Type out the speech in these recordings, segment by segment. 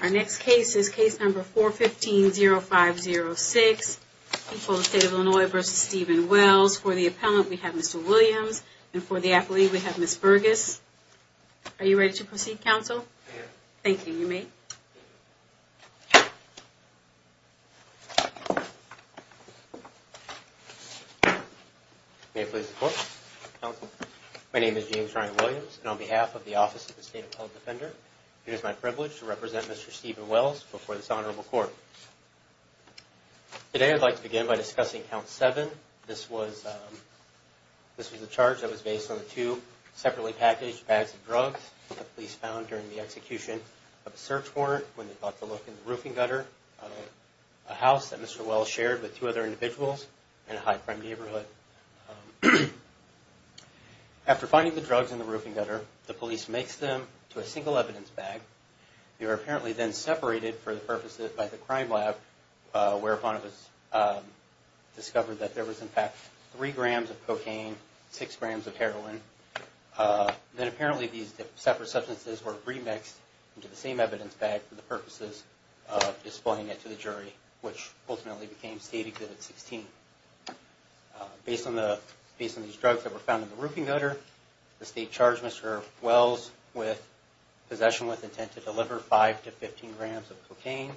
Our next case is case number 415-0506, State of Illinois v. Stephen Wells. For the appellant we have Mr. Williams and for the appellee we have Ms. Burgess. Are you ready to proceed counsel? Thank you. May I please report? My name is James Ryan Williams and on behalf of the Office of the State Appellate Defender it is my privilege to represent Mr. Stephen Wells before this honorable court. Today I'd like to begin by discussing count 7. This was a charge that was based on the two separately packaged bags of drugs that the police found during the execution of a search warrant when they got the look in the roofing gutter of a house that Mr. Wells shared with two other individuals in a high-prime neighborhood. After finding the drugs in the roofing gutter the police mixed them to a single evidence bag. They were apparently then separated for the purposes by the crime lab whereupon it was discovered that there was in fact three grams of cocaine six grams of heroin. Then apparently these separate substances were remixed into the same evidence bag for the purposes of displaying it to the jury which ultimately became stated that at 16. Based on these drugs that were found in the roofing gutter, the state charged Mr. Wells with possession with intent to deliver 5 to 15 grams of cocaine.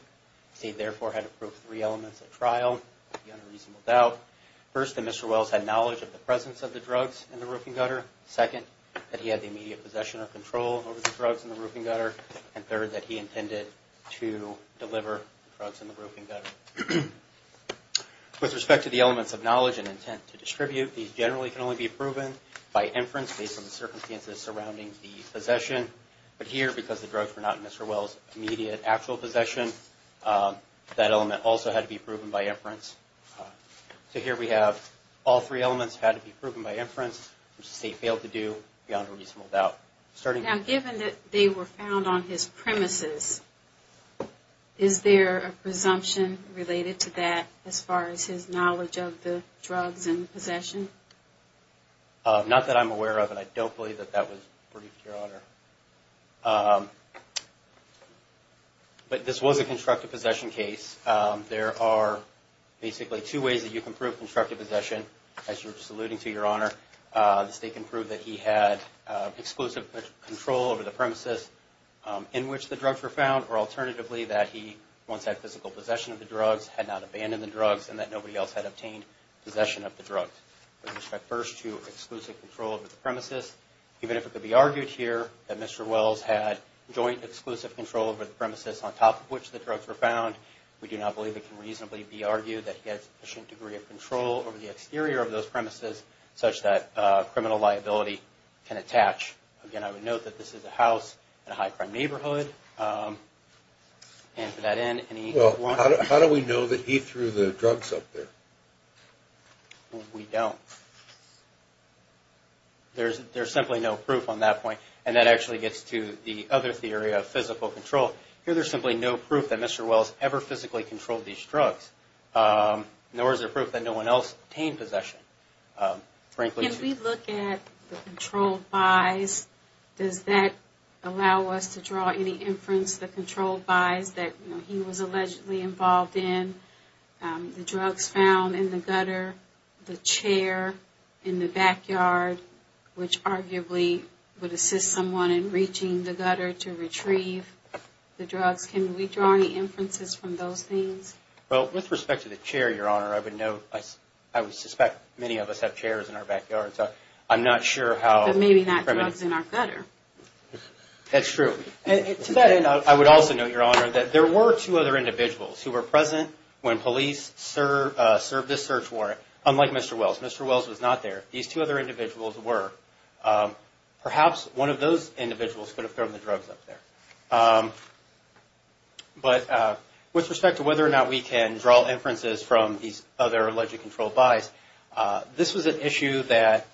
The state therefore had approved three elements of trial. First, that Mr. Wells had knowledge of the presence of the drugs in the roofing gutter. Second, that he had the immediate possession of control over the drugs in the roofing gutter. And third, that he intended to deliver drugs in the roofing gutter. With respect to the elements of proven by inference, based on the circumstances surrounding the possession. But here, because the drugs were not in Mr. Wells' immediate actual possession, that element also had to be proven by inference. So here we have all three elements had to be proven by inference, which the state failed to do beyond a reasonable doubt. Now given that they were found on his premises, is there a presumption related to that as far as his knowledge of the drugs and possession? Not that I'm aware of and I don't believe that that was briefed, Your Honor. But this was a constructive possession case. There are basically two ways that you can prove constructive possession. As you were just alluding to, Your Honor, the state can prove that he had exclusive control over the premises in which the drugs were found. And that nobody else had obtained possession of the drugs. With respect first to exclusive control over the premises, even if it could be argued here that Mr. Wells had joint exclusive control over the premises on top of which the drugs were found, we do not believe it can reasonably be argued that he had sufficient degree of control over the exterior of those premises such that criminal liability can attach. Again, I would note that this is a house in a high crime neighborhood. And for that end, any... How do we know that he threw the drugs up there? We don't. There's simply no proof on that point. And that actually gets to the other theory of physical control. Here there's simply no proof that Mr. Wells ever physically controlled these drugs. Nor is there proof that no one else obtained possession. Frankly... Can we look at the controlled buys? Does that allow us to draw any inference that controlled buys that he was allegedly involved in, the drugs found in the gutter, the chair in the backyard, which arguably would assist someone in reaching the gutter to retrieve the drugs? Can we draw any inferences from those things? Well, with respect to the chair, Your Honor, I would note, I would suspect many of us have chairs in our backyards. I'm not sure how... But maybe not drugs in our gutter. That's true. To that end, I would also note, Your Honor, that there were two other individuals who were present when police served this search warrant, unlike Mr. Wells. Mr. Wells was not there. These two other individuals were. Perhaps one of those individuals could have thrown the drugs up there. But with respect to whether or not we can draw inferences from these other alleged controlled buys, this was an issue that,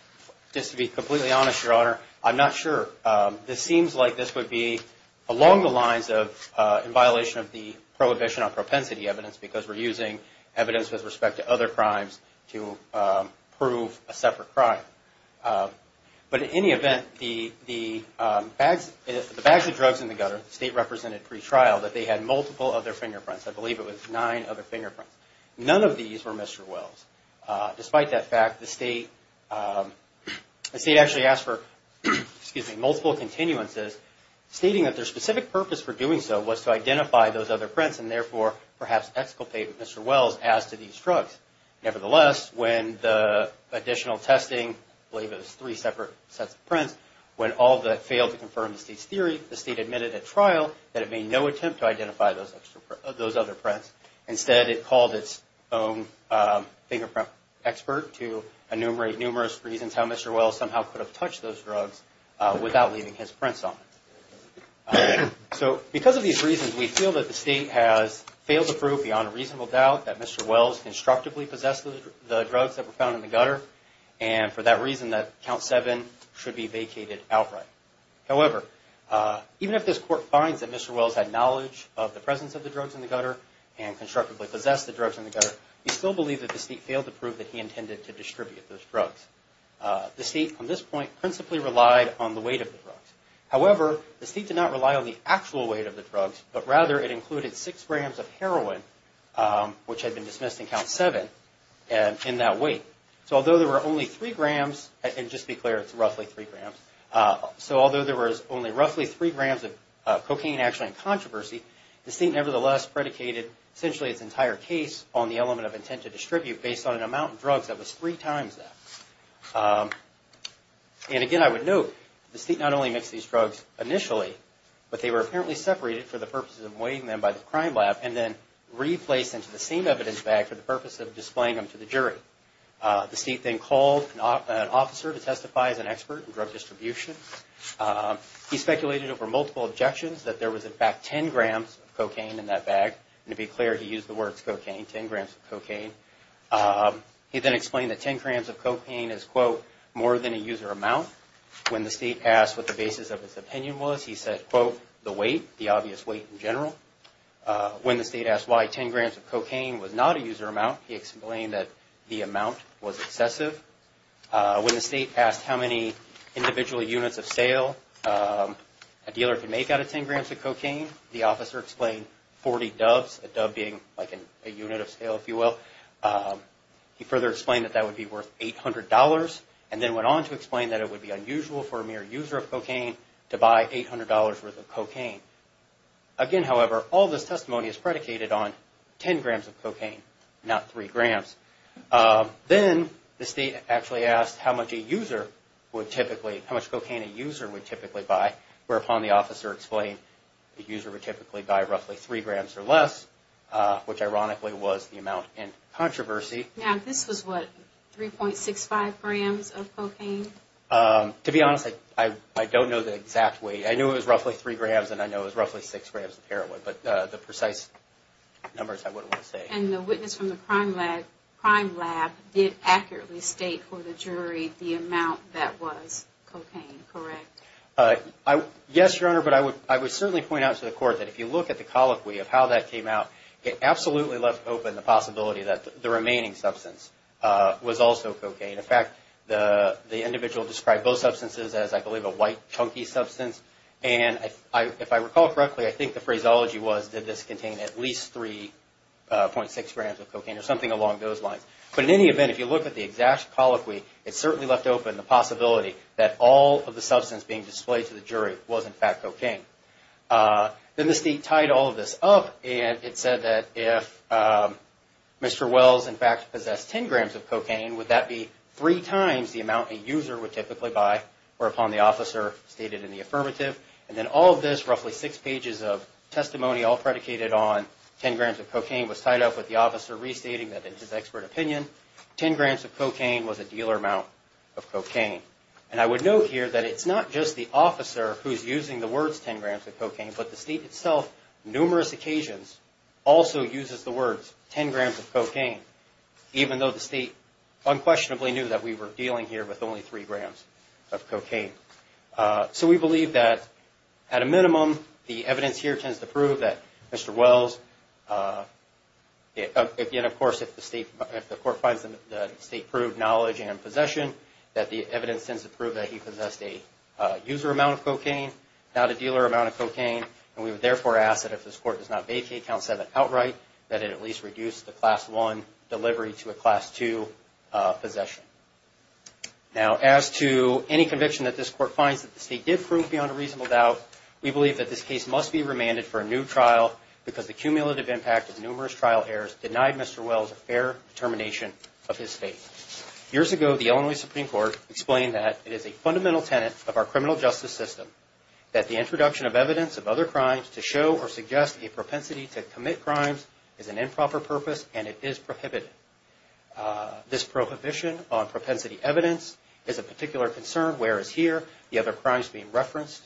just to be completely honest, Your Honor, I'm not sure. This seems like this would be along the lines of in violation of the prohibition on propensity evidence, because we're using evidence with respect to other crimes to prove a separate crime. But in any event, the bags of drugs in the gutter, the state represented pretrial, that they had multiple other fingerprints. I believe it was nine other fingerprints. None of these were Mr. Wells. Despite that fact, the state actually asked for, excuse me, multiple continuances, stating that their specific purpose for doing so was to identify those other prints and, therefore, perhaps exculpate Mr. Wells as to these drugs. Nevertheless, when the additional testing, I believe it was three separate sets of prints, when all of that failed to confirm the state's theory, the state admitted at trial that it made no attempt to identify those other prints. Instead, it called its own fingerprint expert to enumerate numerous reasons how Mr. Wells somehow could have touched those drugs without leaving his prints on them. So, because of these reasons, we feel that the state has failed to prove beyond a reasonable doubt that Mr. Wells constructively possessed the drugs that were found in the gutter and, for that reason, that Count 7 should be vacated outright. However, even if this court finds that Mr. Wells had knowledge of the presence of the drugs in the gutter and constructively possessed the drugs in the gutter, we still believe that the state failed to prove that he intended to distribute those drugs. The state, on this point, principally relied on the weight of the drugs. However, the state did not rely on the actual weight of the drugs, but rather it included 6 grams of heroin, which had been dismissed in Count 7, in that weight. So, although there were only 3 grams, and just be clear, it's roughly 3 grams. So, although there was only roughly 3 grams of heroin, the state, nevertheless, predicated essentially its entire case on the element of intent to distribute based on an amount of drugs that was 3 times that. And again, I would note, the state not only mixed these drugs initially, but they were apparently separated for the purposes of weighing them by the crime lab and then replaced into the same evidence bag for the purpose of displaying them to the jury. The state then called an officer to testify as an expert in drug distribution. He speculated over multiple objections that there was, in fact, 10 grams of cocaine in that bag. And to be clear, he used the words cocaine, 10 grams of cocaine. He then explained that 10 grams of cocaine is, quote, more than a user amount. When the state asked what the basis of his opinion was, he said, quote, the weight, the obvious weight in general. When the state asked why 10 grams of cocaine was not a user amount, he explained that the amount was excessive. When the state asked how many grams of cocaine, the officer explained 40 doves, a dove being like a unit of sale, if you will. He further explained that that would be worth $800 and then went on to explain that it would be unusual for a mere user of cocaine to buy $800 worth of cocaine. Again, however, all this testimony is predicated on 10 grams of cocaine, not 3 grams. Then the state actually asked how much a user would typically, how much cocaine a user would typically buy, whereupon the officer explained the user would typically buy roughly 3 grams or less, which ironically was the amount in controversy. Now, this was what, 3.65 grams of cocaine? To be honest, I don't know the exact weight. I knew it was roughly 3 grams and I know it was roughly 6 grams of heroin, but the precise numbers I wouldn't want to say. And the witness from the crime lab did accurately state for the jury the amount that was cocaine, correct? Yes, Your Honor, but I would certainly point out to the court that if you look at the colloquy of how that came out, it absolutely left open the possibility that the remaining substance was also cocaine. In fact, the individual described both substances as, I believe, a white, chunky substance. And if I recall correctly, I think the phraseology was did this contain at least 3.6 grams of cocaine? If you look at the exact colloquy, it certainly left open the possibility that all of the substance being displayed to the jury was in fact cocaine. Then the state tied all of this up and it said that if Mr. Wells, in fact, possessed 10 grams of cocaine, would that be 3 times the amount a user would typically buy, whereupon the officer stated in the affirmative. And then all of this, roughly 6 pages of testimony all predicated on 10 grams of cocaine was tied up with the officer restating that in his expert opinion, 10 grams of cocaine was a dealer amount of cocaine. And I would note here that it's not just the officer who's using the words 10 grams of cocaine, but the state itself, numerous occasions, also uses the words 10 grams of cocaine, even though the state unquestionably knew that we were dealing here with only 3 grams of cocaine. So we believe that at a minimum, the evidence here tends to prove that Mr. Wells, and of course, if the court finds that the state proved knowledge and possession, that the evidence tends to prove that he possessed a user amount of cocaine, not a dealer amount of cocaine. And we would therefore ask that if this court does not vacate Count 7 outright, that it at least reduce the Class 1 delivery to a Class 2 possession. Now, as to any conviction that this court finds that the state did prove beyond a reasonable doubt, we believe that this case must be remanded for a new trial because the cumulative impact of this case is a clear determination of his fate. Years ago, the Illinois Supreme Court explained that it is a fundamental tenet of our criminal justice system that the introduction of evidence of other crimes to show or suggest a propensity to commit crimes is an improper purpose and it is prohibited. This prohibition on propensity evidence is a particular concern, whereas here, the other crimes being referenced,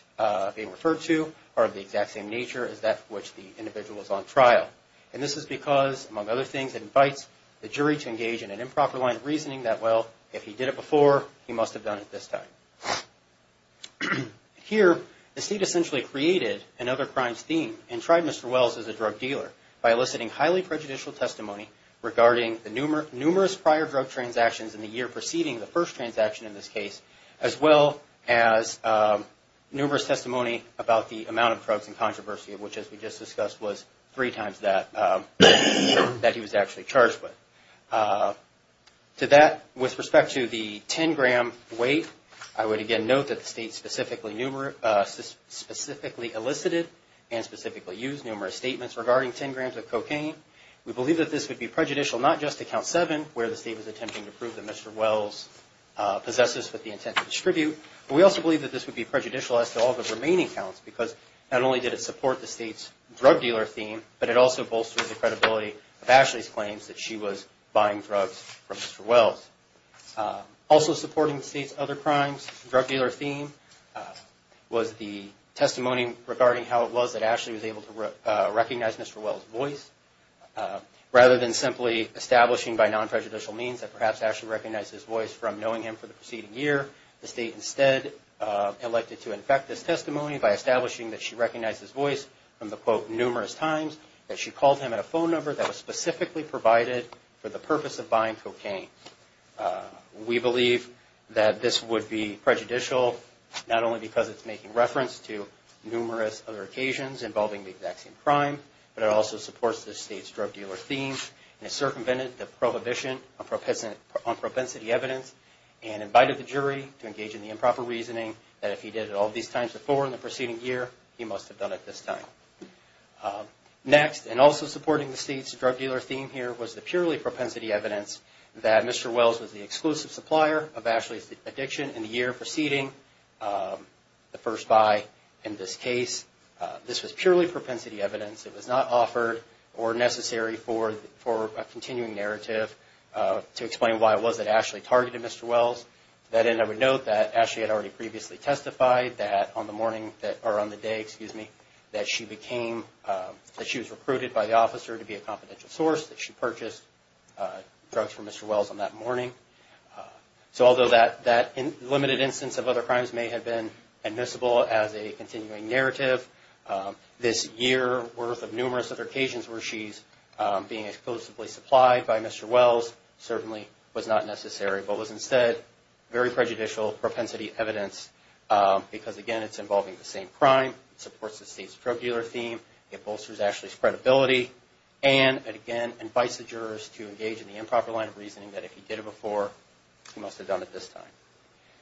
being referred to, are of the exact same nature as that which the individual is on trial. And this is because, among other things, it invites the jury to engage in an improper line of reasoning that, well, if he did it before, he must have done it this time. Here, the state essentially created another crimes theme and tried Mr. Wells as a drug dealer by eliciting highly prejudicial testimony regarding the numerous prior drug transactions in the year preceding the first transaction in this case, as well as numerous testimony about the amount of drugs in controversy, which, as we just discussed, was three times that he was actually charged with. To that, with respect to the 10-gram weight, I would again note that the state specifically elicited and specifically used numerous statements regarding 10 grams of cocaine. We believe that this would be prejudicial not just to Count 7, where the state was attempting to prove that Mr. Wells possessed this with the intent to distribute, but we also believe that this would be prejudicial as to all the other crimes. Not only did it support the state's drug dealer theme, but it also bolstered the credibility of Ashley's claims that she was buying drugs from Mr. Wells. Also supporting the state's other crimes, drug dealer theme, was the testimony regarding how it was that Ashley was able to recognize Mr. Wells' voice. Rather than simply establishing by non-prejudicial means that perhaps Ashley recognized his voice from knowing him for the preceding year, the state instead elected to infect this drug dealer to recognize his voice from the, quote, numerous times that she called him at a phone number that was specifically provided for the purpose of buying cocaine. We believe that this would be prejudicial, not only because it's making reference to numerous other occasions involving the exact same crime, but it also supports the state's drug dealer theme and circumvented the prohibition on propensity evidence and invited the jury to engage in the improper reasoning that if he did it all these times before in the preceding year, he must have done it this time. Next, and also supporting the state's drug dealer theme here, was the purely propensity evidence that Mr. Wells was the exclusive supplier of Ashley's addiction in the year preceding the first buy in this case. This was purely propensity evidence. It was not offered or necessary for a continuing narrative to explain why it was that Ashley targeted Mr. Wells. That end, I would note that Ashley had already previously testified that on the morning that, or on the day, excuse me, that she became, that she was recruited by the officer to be a confidential source, that she purchased drugs from Mr. Wells on that morning. So although that limited instance of other crimes may have been admissible as a continuing narrative, this year worth of numerous other occasions where she's being exclusively supplied by Mr. Wells certainly was not necessary, but was because, again, it's involving the same crime, supports the state's drug dealer theme, it bolsters Ashley's credibility, and it, again, invites the jurors to engage in the improper line of reasoning that if he did it before, he must have done it this time.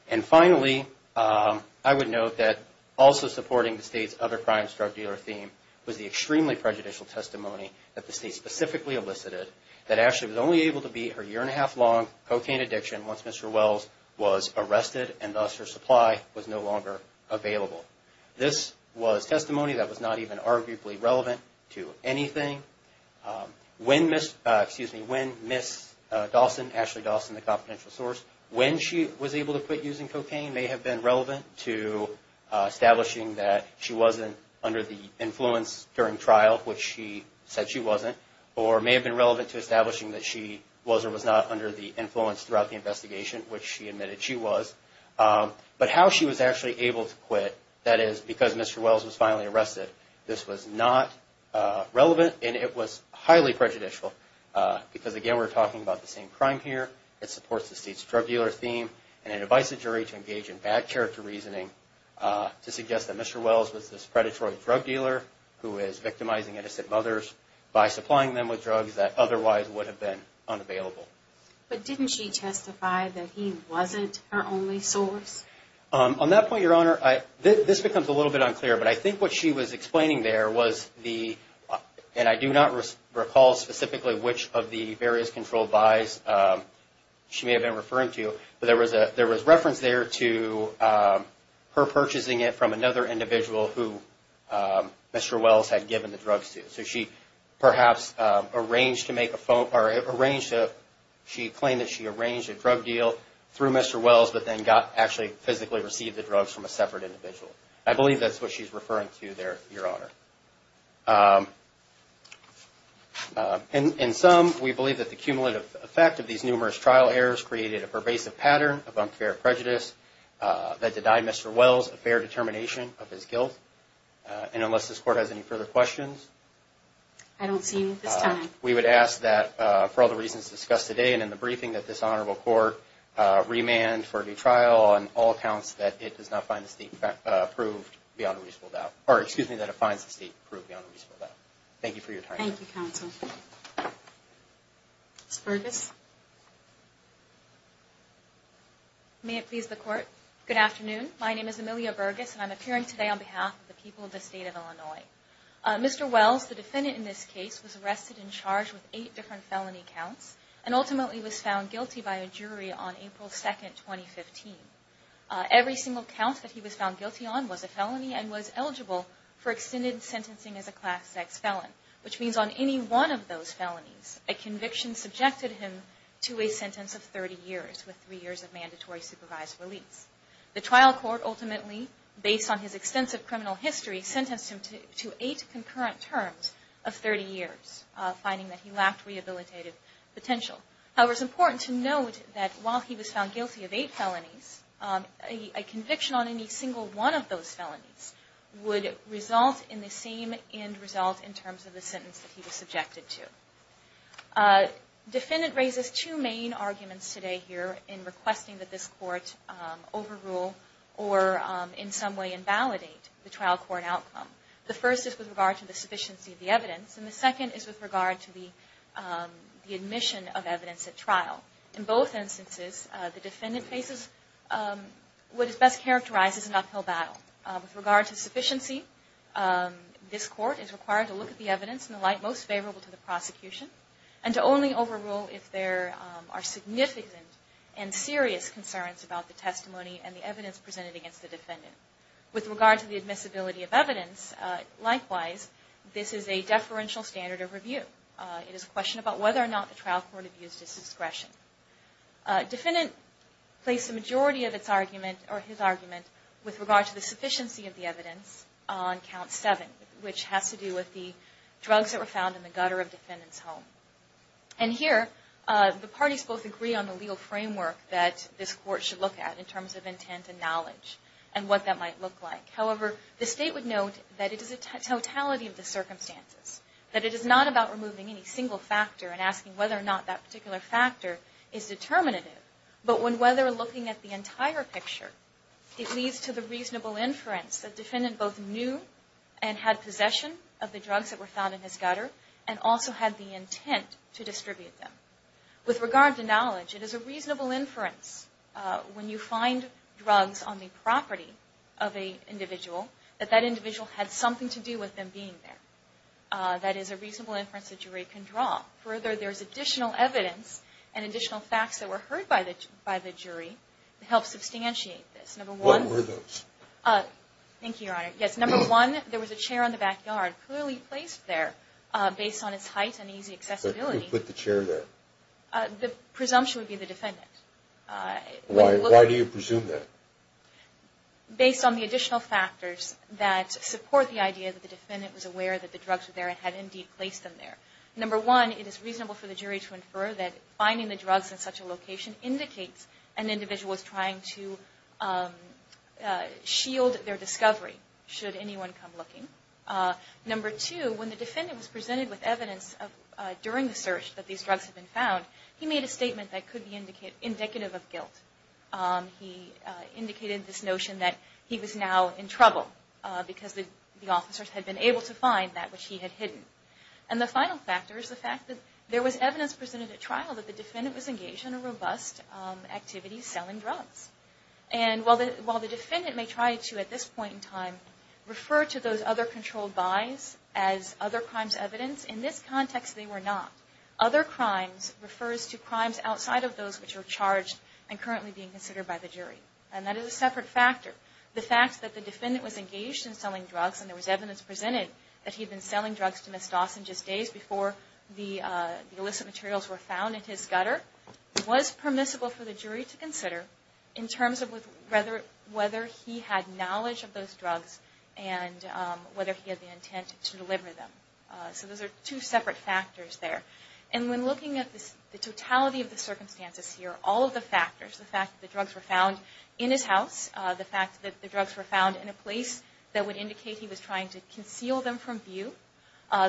And finally, I would note that also supporting the state's other crimes drug dealer theme was the extremely prejudicial testimony that the state specifically elicited, that Ashley was only able to beat her year and a half long cocaine addiction once Mr. Wells' supply was no longer available. This was testimony that was not even arguably relevant to anything. When Ms., excuse me, when Ms. Dawson, Ashley Dawson, the confidential source, when she was able to quit using cocaine may have been relevant to establishing that she wasn't under the influence during trial, which she said she wasn't, or may have been relevant to establishing that she was or was not under the influence throughout the trial. But how she was actually able to quit, that is, because Mr. Wells was finally arrested, this was not relevant, and it was highly prejudicial because, again, we're talking about the same crime here, it supports the state's drug dealer theme, and it invites the jury to engage in bad character reasoning to suggest that Mr. Wells was this predatory drug dealer who is victimizing innocent mothers by supplying them with drugs that otherwise would have been unavailable. But didn't she testify that he wasn't her only source? On that point, Your Honor, this becomes a little bit unclear, but I think what she was explaining there was the, and I do not recall specifically which of the various controlled buys she may have been referring to, but there was reference there to her purchasing it from another individual who Mr. Wells had given the drugs to. So she perhaps arranged to make a she claimed that she arranged a drug deal through Mr. Wells, but then got actually physically received the drugs from a separate individual. I believe that's what she's referring to there, Your Honor. In sum, we believe that the cumulative effect of these numerous trial errors created a pervasive pattern of unfair prejudice that denied Mr. Wells a fair determination of his guilt. And unless this Court has any further questions? I don't see you this time. We would ask that, for all the reasons discussed today and in the briefing, that this Honorable Court remand for a new trial on all accounts that it does not find the State approved beyond a reasonable doubt. Or excuse me, that it finds the State approved beyond a reasonable doubt. Thank you for your time. Thank you, Counsel. Ms. Burgess? May it please the Court? Good afternoon. My name is Amelia Burgess and I'm appearing today on behalf of the people of the State of Illinois. Mr. Wells, the defendant in this case, was arrested and charged with eight different felony counts and ultimately was found guilty by a jury on April 2, 2015. Every single count that he was found guilty on was a felony and was eligible for extended sentencing as a class X felon, which means on any one of those felonies, a conviction subjected him to a sentence of 30 years with three years of mandatory supervised release. The trial court ultimately, based on his concurrent terms, of 30 years, finding that he lacked rehabilitative potential. However, it's important to note that while he was found guilty of eight felonies, a conviction on any single one of those felonies would result in the same end result in terms of the sentence that he was subjected to. Defendant raises two main arguments today here in requesting that this Court overrule or in some way invalidate the trial court outcome. The first is with regard to the sufficiency of the evidence and the second is with regard to the admission of evidence at trial. In both instances, the defendant faces what is best characterized as an uphill battle. With regard to sufficiency, this Court is required to look at the evidence in the light most favorable to the prosecution and to only overrule if there are significant and serious With regard to the admissibility of evidence, likewise, this is a deferential standard of review. It is a question about whether or not the trial court abused his discretion. Defendant placed the majority of his argument with regard to the sufficiency of the evidence on Count 7, which has to do with the drugs that were found in the gutter of the defendant's home. And here, the parties both agree on the legal framework that this Court should look at in terms of However, the State would note that it is a totality of the circumstances, that it is not about removing any single factor and asking whether or not that particular factor is determinative. But when whether looking at the entire picture, it leads to the reasonable inference that defendant both knew and had possession of the drugs that were found in his gutter and also had the intent to distribute them. With regard to knowledge, it is a reasonable inference when you find drugs on the property of an individual that that individual had something to do with them being there. That is a reasonable inference a jury can draw. Further, there is additional evidence and additional facts that were heard by the jury to help substantiate this. What were those? Thank you, Your Honor. Yes, number one, there was a chair in the backyard clearly placed there based on its height and easy accessibility. Who put the chair there? The presumption would be the defendant. Why do you presume that? Based on the additional factors that support the idea that the defendant was aware that the drugs were there and had indeed placed them there. Number one, it is reasonable for the jury to infer that finding the drugs in such a location indicates an individual was trying to shield their discovery should anyone come looking. Number two, when the defendant was presented with evidence during the search that these drugs had been found, he made a statement that could be indicative of guilt. He indicated this notion that he was now in trouble because the officers had been able to find that which he had hidden. The final factor is the fact that there was evidence presented at trial that the defendant was engaged in a robust activity selling drugs. While the defendant may try to, at this point in time, refer to those other controlled buys as other crimes evidence, in this context they were not. Other crimes refers to crimes outside of those which are charged and currently being considered by the jury. And that is a separate factor. The fact that the defendant was engaged in selling drugs and there was evidence presented that he had been selling drugs to Ms. Dawson just days before the illicit materials were found in his gutter was permissible for the jury to consider in terms of whether he had knowledge of those drugs and whether he had the intent to deliver them. So those are two separate factors there. And when looking at the totality of the circumstances here, all of the factors, the fact that the drugs were found in his house, the fact that the drugs were found in a place that would indicate he was trying to conceal them from view,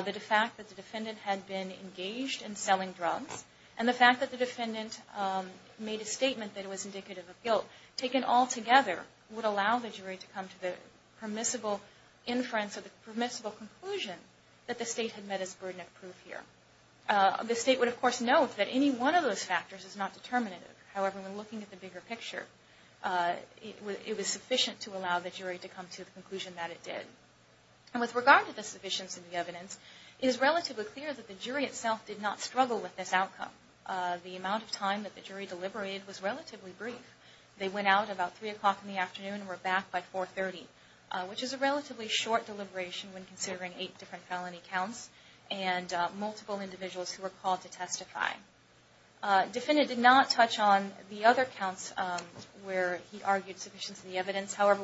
the fact that the defendant had been engaged in selling drugs, and the fact that the defendant made a decision that altogether would allow the jury to come to the permissible inference or the permissible conclusion that the state had met its burden of proof here. The state would of course note that any one of those factors is not determinative. However, when looking at the bigger picture, it was sufficient to allow the jury to come to the conclusion that it did. And with regard to the sufficiency of the evidence, it is relatively clear that the jury itself did not struggle with this outcome. The amount of time that the defendants had to deliver was relatively short, considering eight different felony counts and multiple individuals who were called to testify. The defendant did not touch on the other counts where he argued sufficiency of the evidence. However,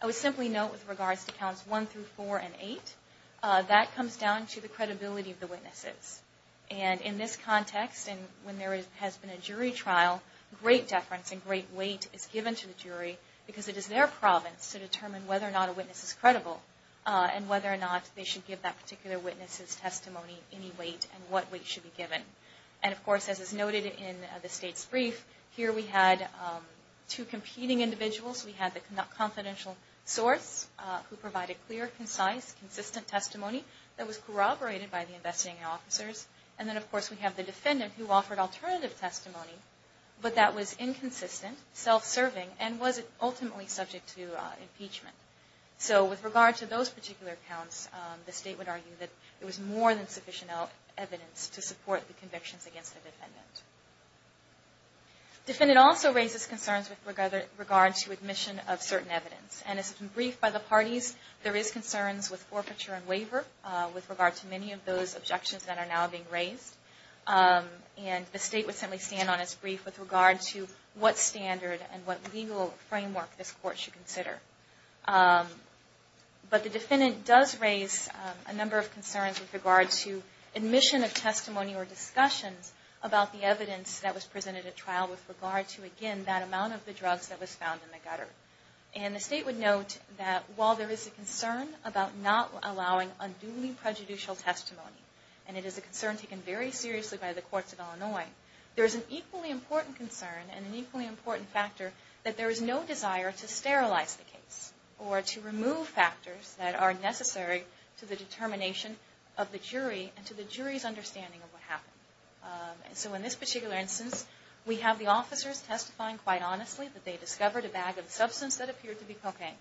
I would simply note with regards to counts one through four and eight, that comes down to the credibility of the witnesses. And in this context, and when there has been a jury trial, great deference and great weight is given to the jury because it is their province to determine whether or not a witness is credible and whether or not they should give that particular witness's testimony any weight and what weight should be given. And of course, as is noted in the state's brief, here we had two competing individuals. We had the confidential source who provided clear, concise, consistent testimony that was corroborated by the investigating officers. And then, of course, we have the defendant who offered alternative testimony, but that was inconsistent, self-serving, and was ultimately subject to impeachment. So with regard to those particular counts, the state would argue that it was more than sufficient evidence to support the convictions against the defendant. Defendant also raises concerns with regard to admission of certain evidence. And as briefed by the parties, there is concerns with forfeiture and waiver with regard to many of those objections that are now being raised. And the state would certainly stand on its brief with regard to what standard and what legal framework this Court should consider. But the defendant does raise a number of concerns with regard to admission of testimony or discussions about the evidence that was presented at trial with regard to, again, that amount of the drugs that was found in the gutter. And the state would note that while there is a concern about not allowing unduly prejudicial testimony, and it is a concern taken very seriously by the state, it is an equally important concern and an equally important factor that there is no desire to sterilize the case or to remove factors that are necessary to the determination of the jury and to the jury's understanding of what happened. So in this particular instance, we have the officers testifying quite honestly that they discovered a bag of substance that appeared to be cocaine,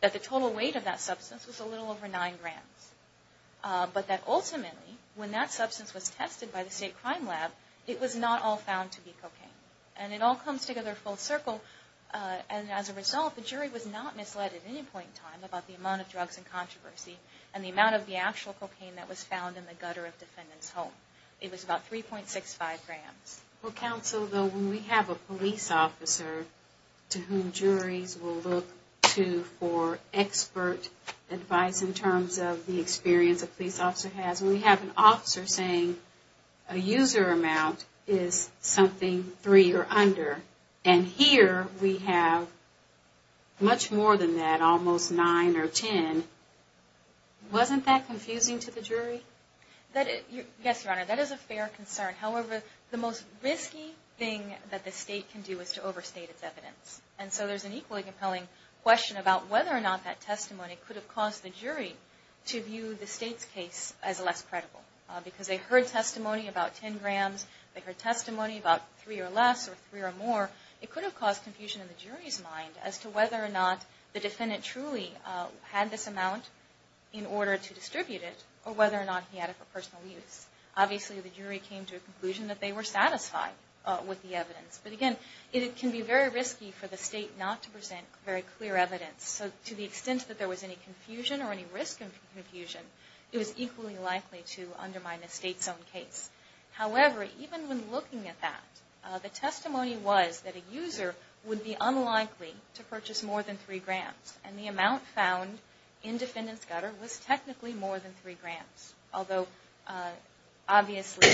that the total weight of that substance was a little over nine grams. But that ultimately, when that substance was tested by the state cocaine. And it all comes together full circle. And as a result, the jury was not misled at any point in time about the amount of drugs in controversy and the amount of the actual cocaine that was found in the gutter of the defendant's home. It was about 3.65 grams. Well, counsel, though, when we have a police officer to whom juries will look to for expert advice in terms of the experience a police officer has, we have an officer saying a user amount is something three or under. And here we have much more than that, almost nine or ten. Wasn't that confusing to the jury? Yes, Your Honor, that is a fair concern. However, the most risky thing that the state can do is to overstate its evidence. And so there's an equally compelling question about whether or not that testimony could have caused the jury to view the state's case as less credible. Because they heard testimony about ten grams. They heard testimony about three or less or three or more. It could have caused confusion in the jury's mind as to whether or not the defendant truly had this amount in order to distribute it or whether or not he had it for personal use. Obviously, the jury came to a conclusion that they were satisfied with the evidence. But again, it can be very risky for the state not to present very clear evidence. So to the extent that there was any confusion or any risk of confusion, it was equally likely to undermine the state's own case. However, even when looking at that, the testimony was that a user would be unlikely to purchase more than three grams. And the amount found in defendant's gutter was technically more than three grams. Although, obviously,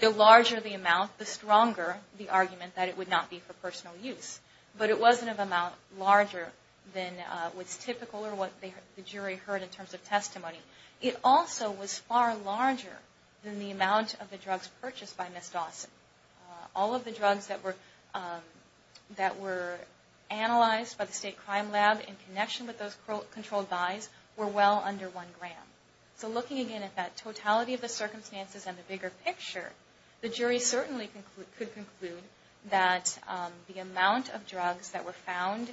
the larger the amount, the stronger the argument that it would not be for personal use. But it wasn't an amount larger than what's typical or what the jury heard in terms of testimony. It also was far larger than the amount of the drugs purchased by Ms. Dawson. All of the drugs that were analyzed by the state crime lab in connection with those controlled buys were well under one gram. So looking again at that totality of the circumstances and the bigger picture, the jury certainly could conclude that the amount of drugs that were found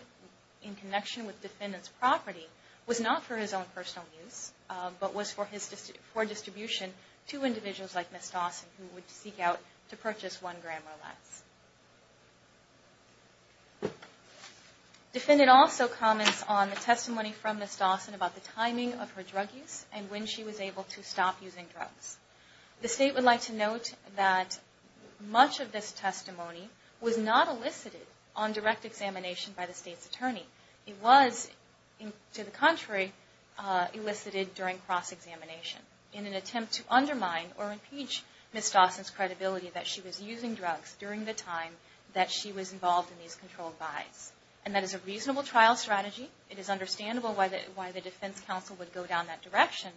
in connection with defendant's property was not for his own personal use, but was for distribution to individuals like Ms. Dawson who would seek out to purchase one gram or less. Defendant also comments on the testimony from Ms. Dawson about the timing of her drug use and when she was able to stop using drugs. The state would like to note that much of this testimony was not elicited on direct examination by the state's attorney. It was, to the contrary, elicited during cross-examination in an attempt to undermine or impeach Ms. Dawson's credibility that she was using drugs during the time that she was involved in these controlled buys. And that is a reasonable trial strategy. It is understandable why the defense counsel would go down that direction.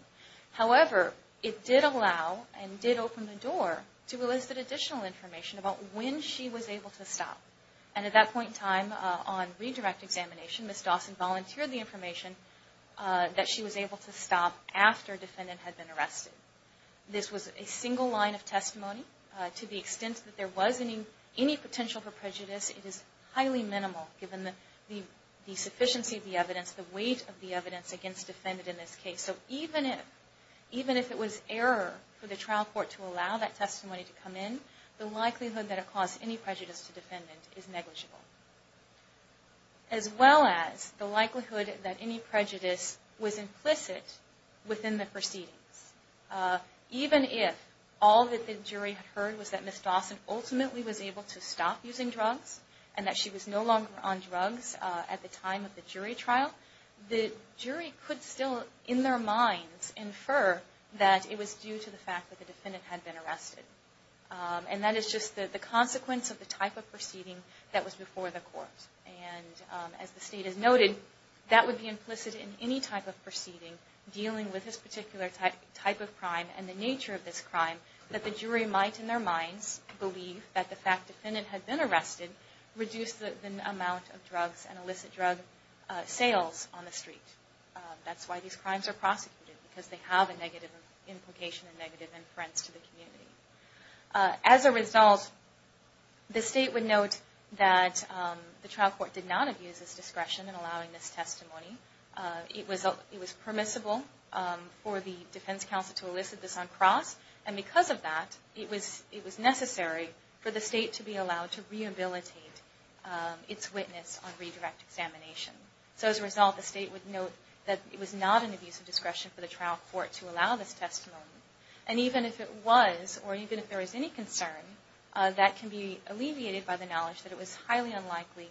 However, it did allow and did open the door to elicit additional information about when she was able to stop. And at that point in time on redirect examination, Ms. Dawson volunteered the information that she was able to stop after defendant had been arrested. This was a single line of testimony. To the extent that there was any potential for prejudice, it is highly minimal given the sufficiency of the evidence, the weight of the evidence against the defendant in this case. So even if it was error for the trial court to allow that testimony to come in, the likelihood that it caused any prejudice to defendant is negligible. As well as the likelihood that any prejudice was implicit within the proceedings. Even if all that the jury had heard was that Ms. Dawson ultimately was able to stop using drugs and that she was no longer on drugs at the time of the jury trial, the jury could still in their minds infer that it was due to the fact that the defendant had been arrested. And that is just the consequence of the type of proceeding that was before the court. And as the state has noted, that would be implicit in any type of proceeding dealing with this particular type of crime and the nature of this crime that the jury might in their minds believe that the fact defendant had been arrested reduced the amount of drugs and illicit drug sales on the street. That's why these crimes are prosecuted because they have a negative implication and negative inference to the community. As a result, the state would note that the trial court did not abuse its discretion in allowing this testimony. It was permissible for the defense counsel to elicit this on cross and because of that, it was necessary for the state to be allowed to rehabilitate its witness on redirect examination. So as a result, the state would note that it was not an abuse of discretion for the trial court to allow this testimony. And even if it was or even if there was any concern, that can be alleviated by the knowledge that it was highly unlikely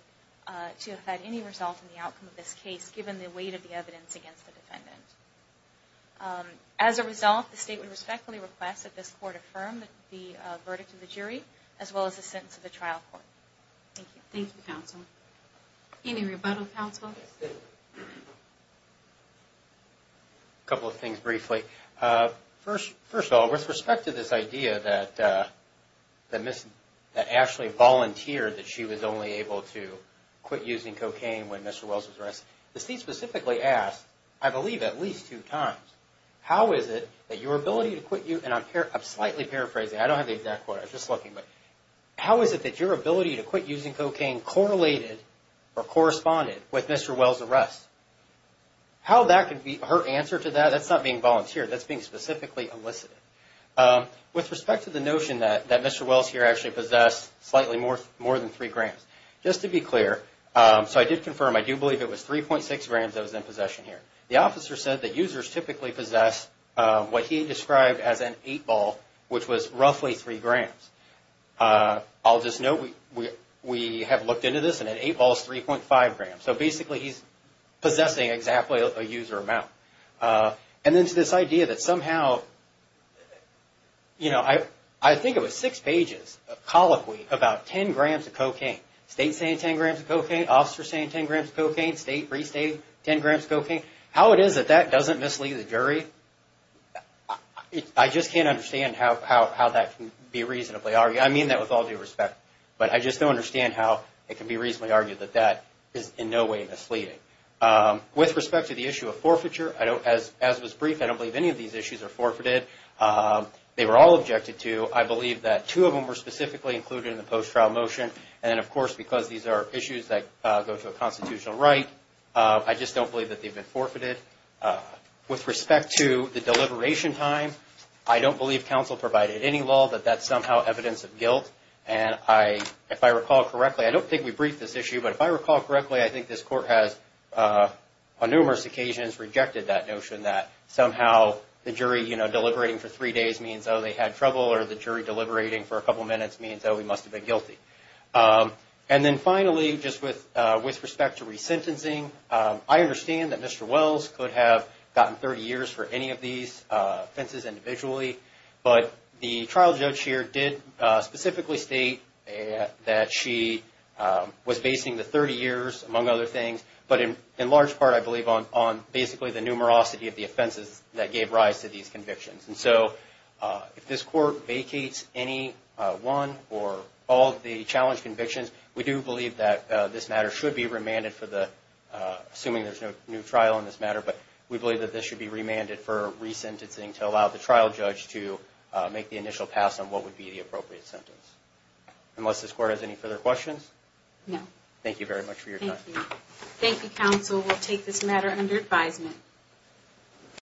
to have had any result in the outcome of this case given the weight of the evidence against the defendant. As a result, the state would respectfully request that this court affirm the verdict of the jury as well as the sentence of the trial court. Thank you. Thank you, counsel. Any rebuttal, counsel? A couple of things briefly. First of all, with respect to this idea that Ashley volunteered that she was only able to quit using cocaine when Mr. Wells was I believe at least two times. How is it that your ability to quit you and I'm slightly paraphrasing, I don't have the exact quote, I'm just looking, but how is it that your ability to quit using cocaine correlated or corresponded with Mr. Wells' arrest? How that could be her answer to that, that's not being volunteered, that's being specifically elicited. With respect to the notion that Mr. Wells here actually possessed slightly more than three grams. Just to be clear, so I did confirm, I do believe it was 3.6 grams that was in possession. The officer said that users typically possess what he described as an eight ball, which was roughly three grams. I'll just note, we have looked into this and an eight ball is 3.5 grams. So basically he's possessing exactly a user amount. And then to this idea that somehow, you know, I think it was six pages, colloquy, about 10 grams of cocaine. State saying 10 grams of cocaine, officer saying 10 grams of cocaine, state restating 10 grams of cocaine. How it is that that doesn't mislead the jury, I just can't understand how that can be reasonably argued. I mean that with all due respect, but I just don't understand how it can be reasonably argued that that is in no way misleading. With respect to the issue of forfeiture, as was briefed, I don't believe any of these issues are forfeited. They were all objected to. I believe that two of them were specifically included in the post-trial motion and then of course because these are issues that go to a constitutional right, I just don't believe that they've been forfeited. With respect to the deliberation time, I don't believe counsel provided any law that that's somehow evidence of guilt. And I, if I recall correctly, I don't think we briefed this issue, but if I recall correctly, I think this court has on numerous occasions rejected that notion that somehow the jury, you know, deliberating for three days means, oh they had trouble, or the jury deliberating for a couple minutes means, oh he must have been guilty. And then finally, just with respect to resentencing, I understand that Mr. Wells could have gotten 30 years for any of these offenses individually, but the trial judge here did specifically state that she was basing the 30 years, among other things, but in large part I believe on basically the numerosity of the offenses that gave rise to these for all the challenge convictions, we do believe that this matter should be remanded for the, assuming there's no new trial in this matter, but we believe that this should be remanded for resentencing to allow the trial judge to make the initial pass on what would be the appropriate sentence. Unless this court has any further questions? No. Thank you very much for your time. Thank you counsel, we'll take this matter under advisement.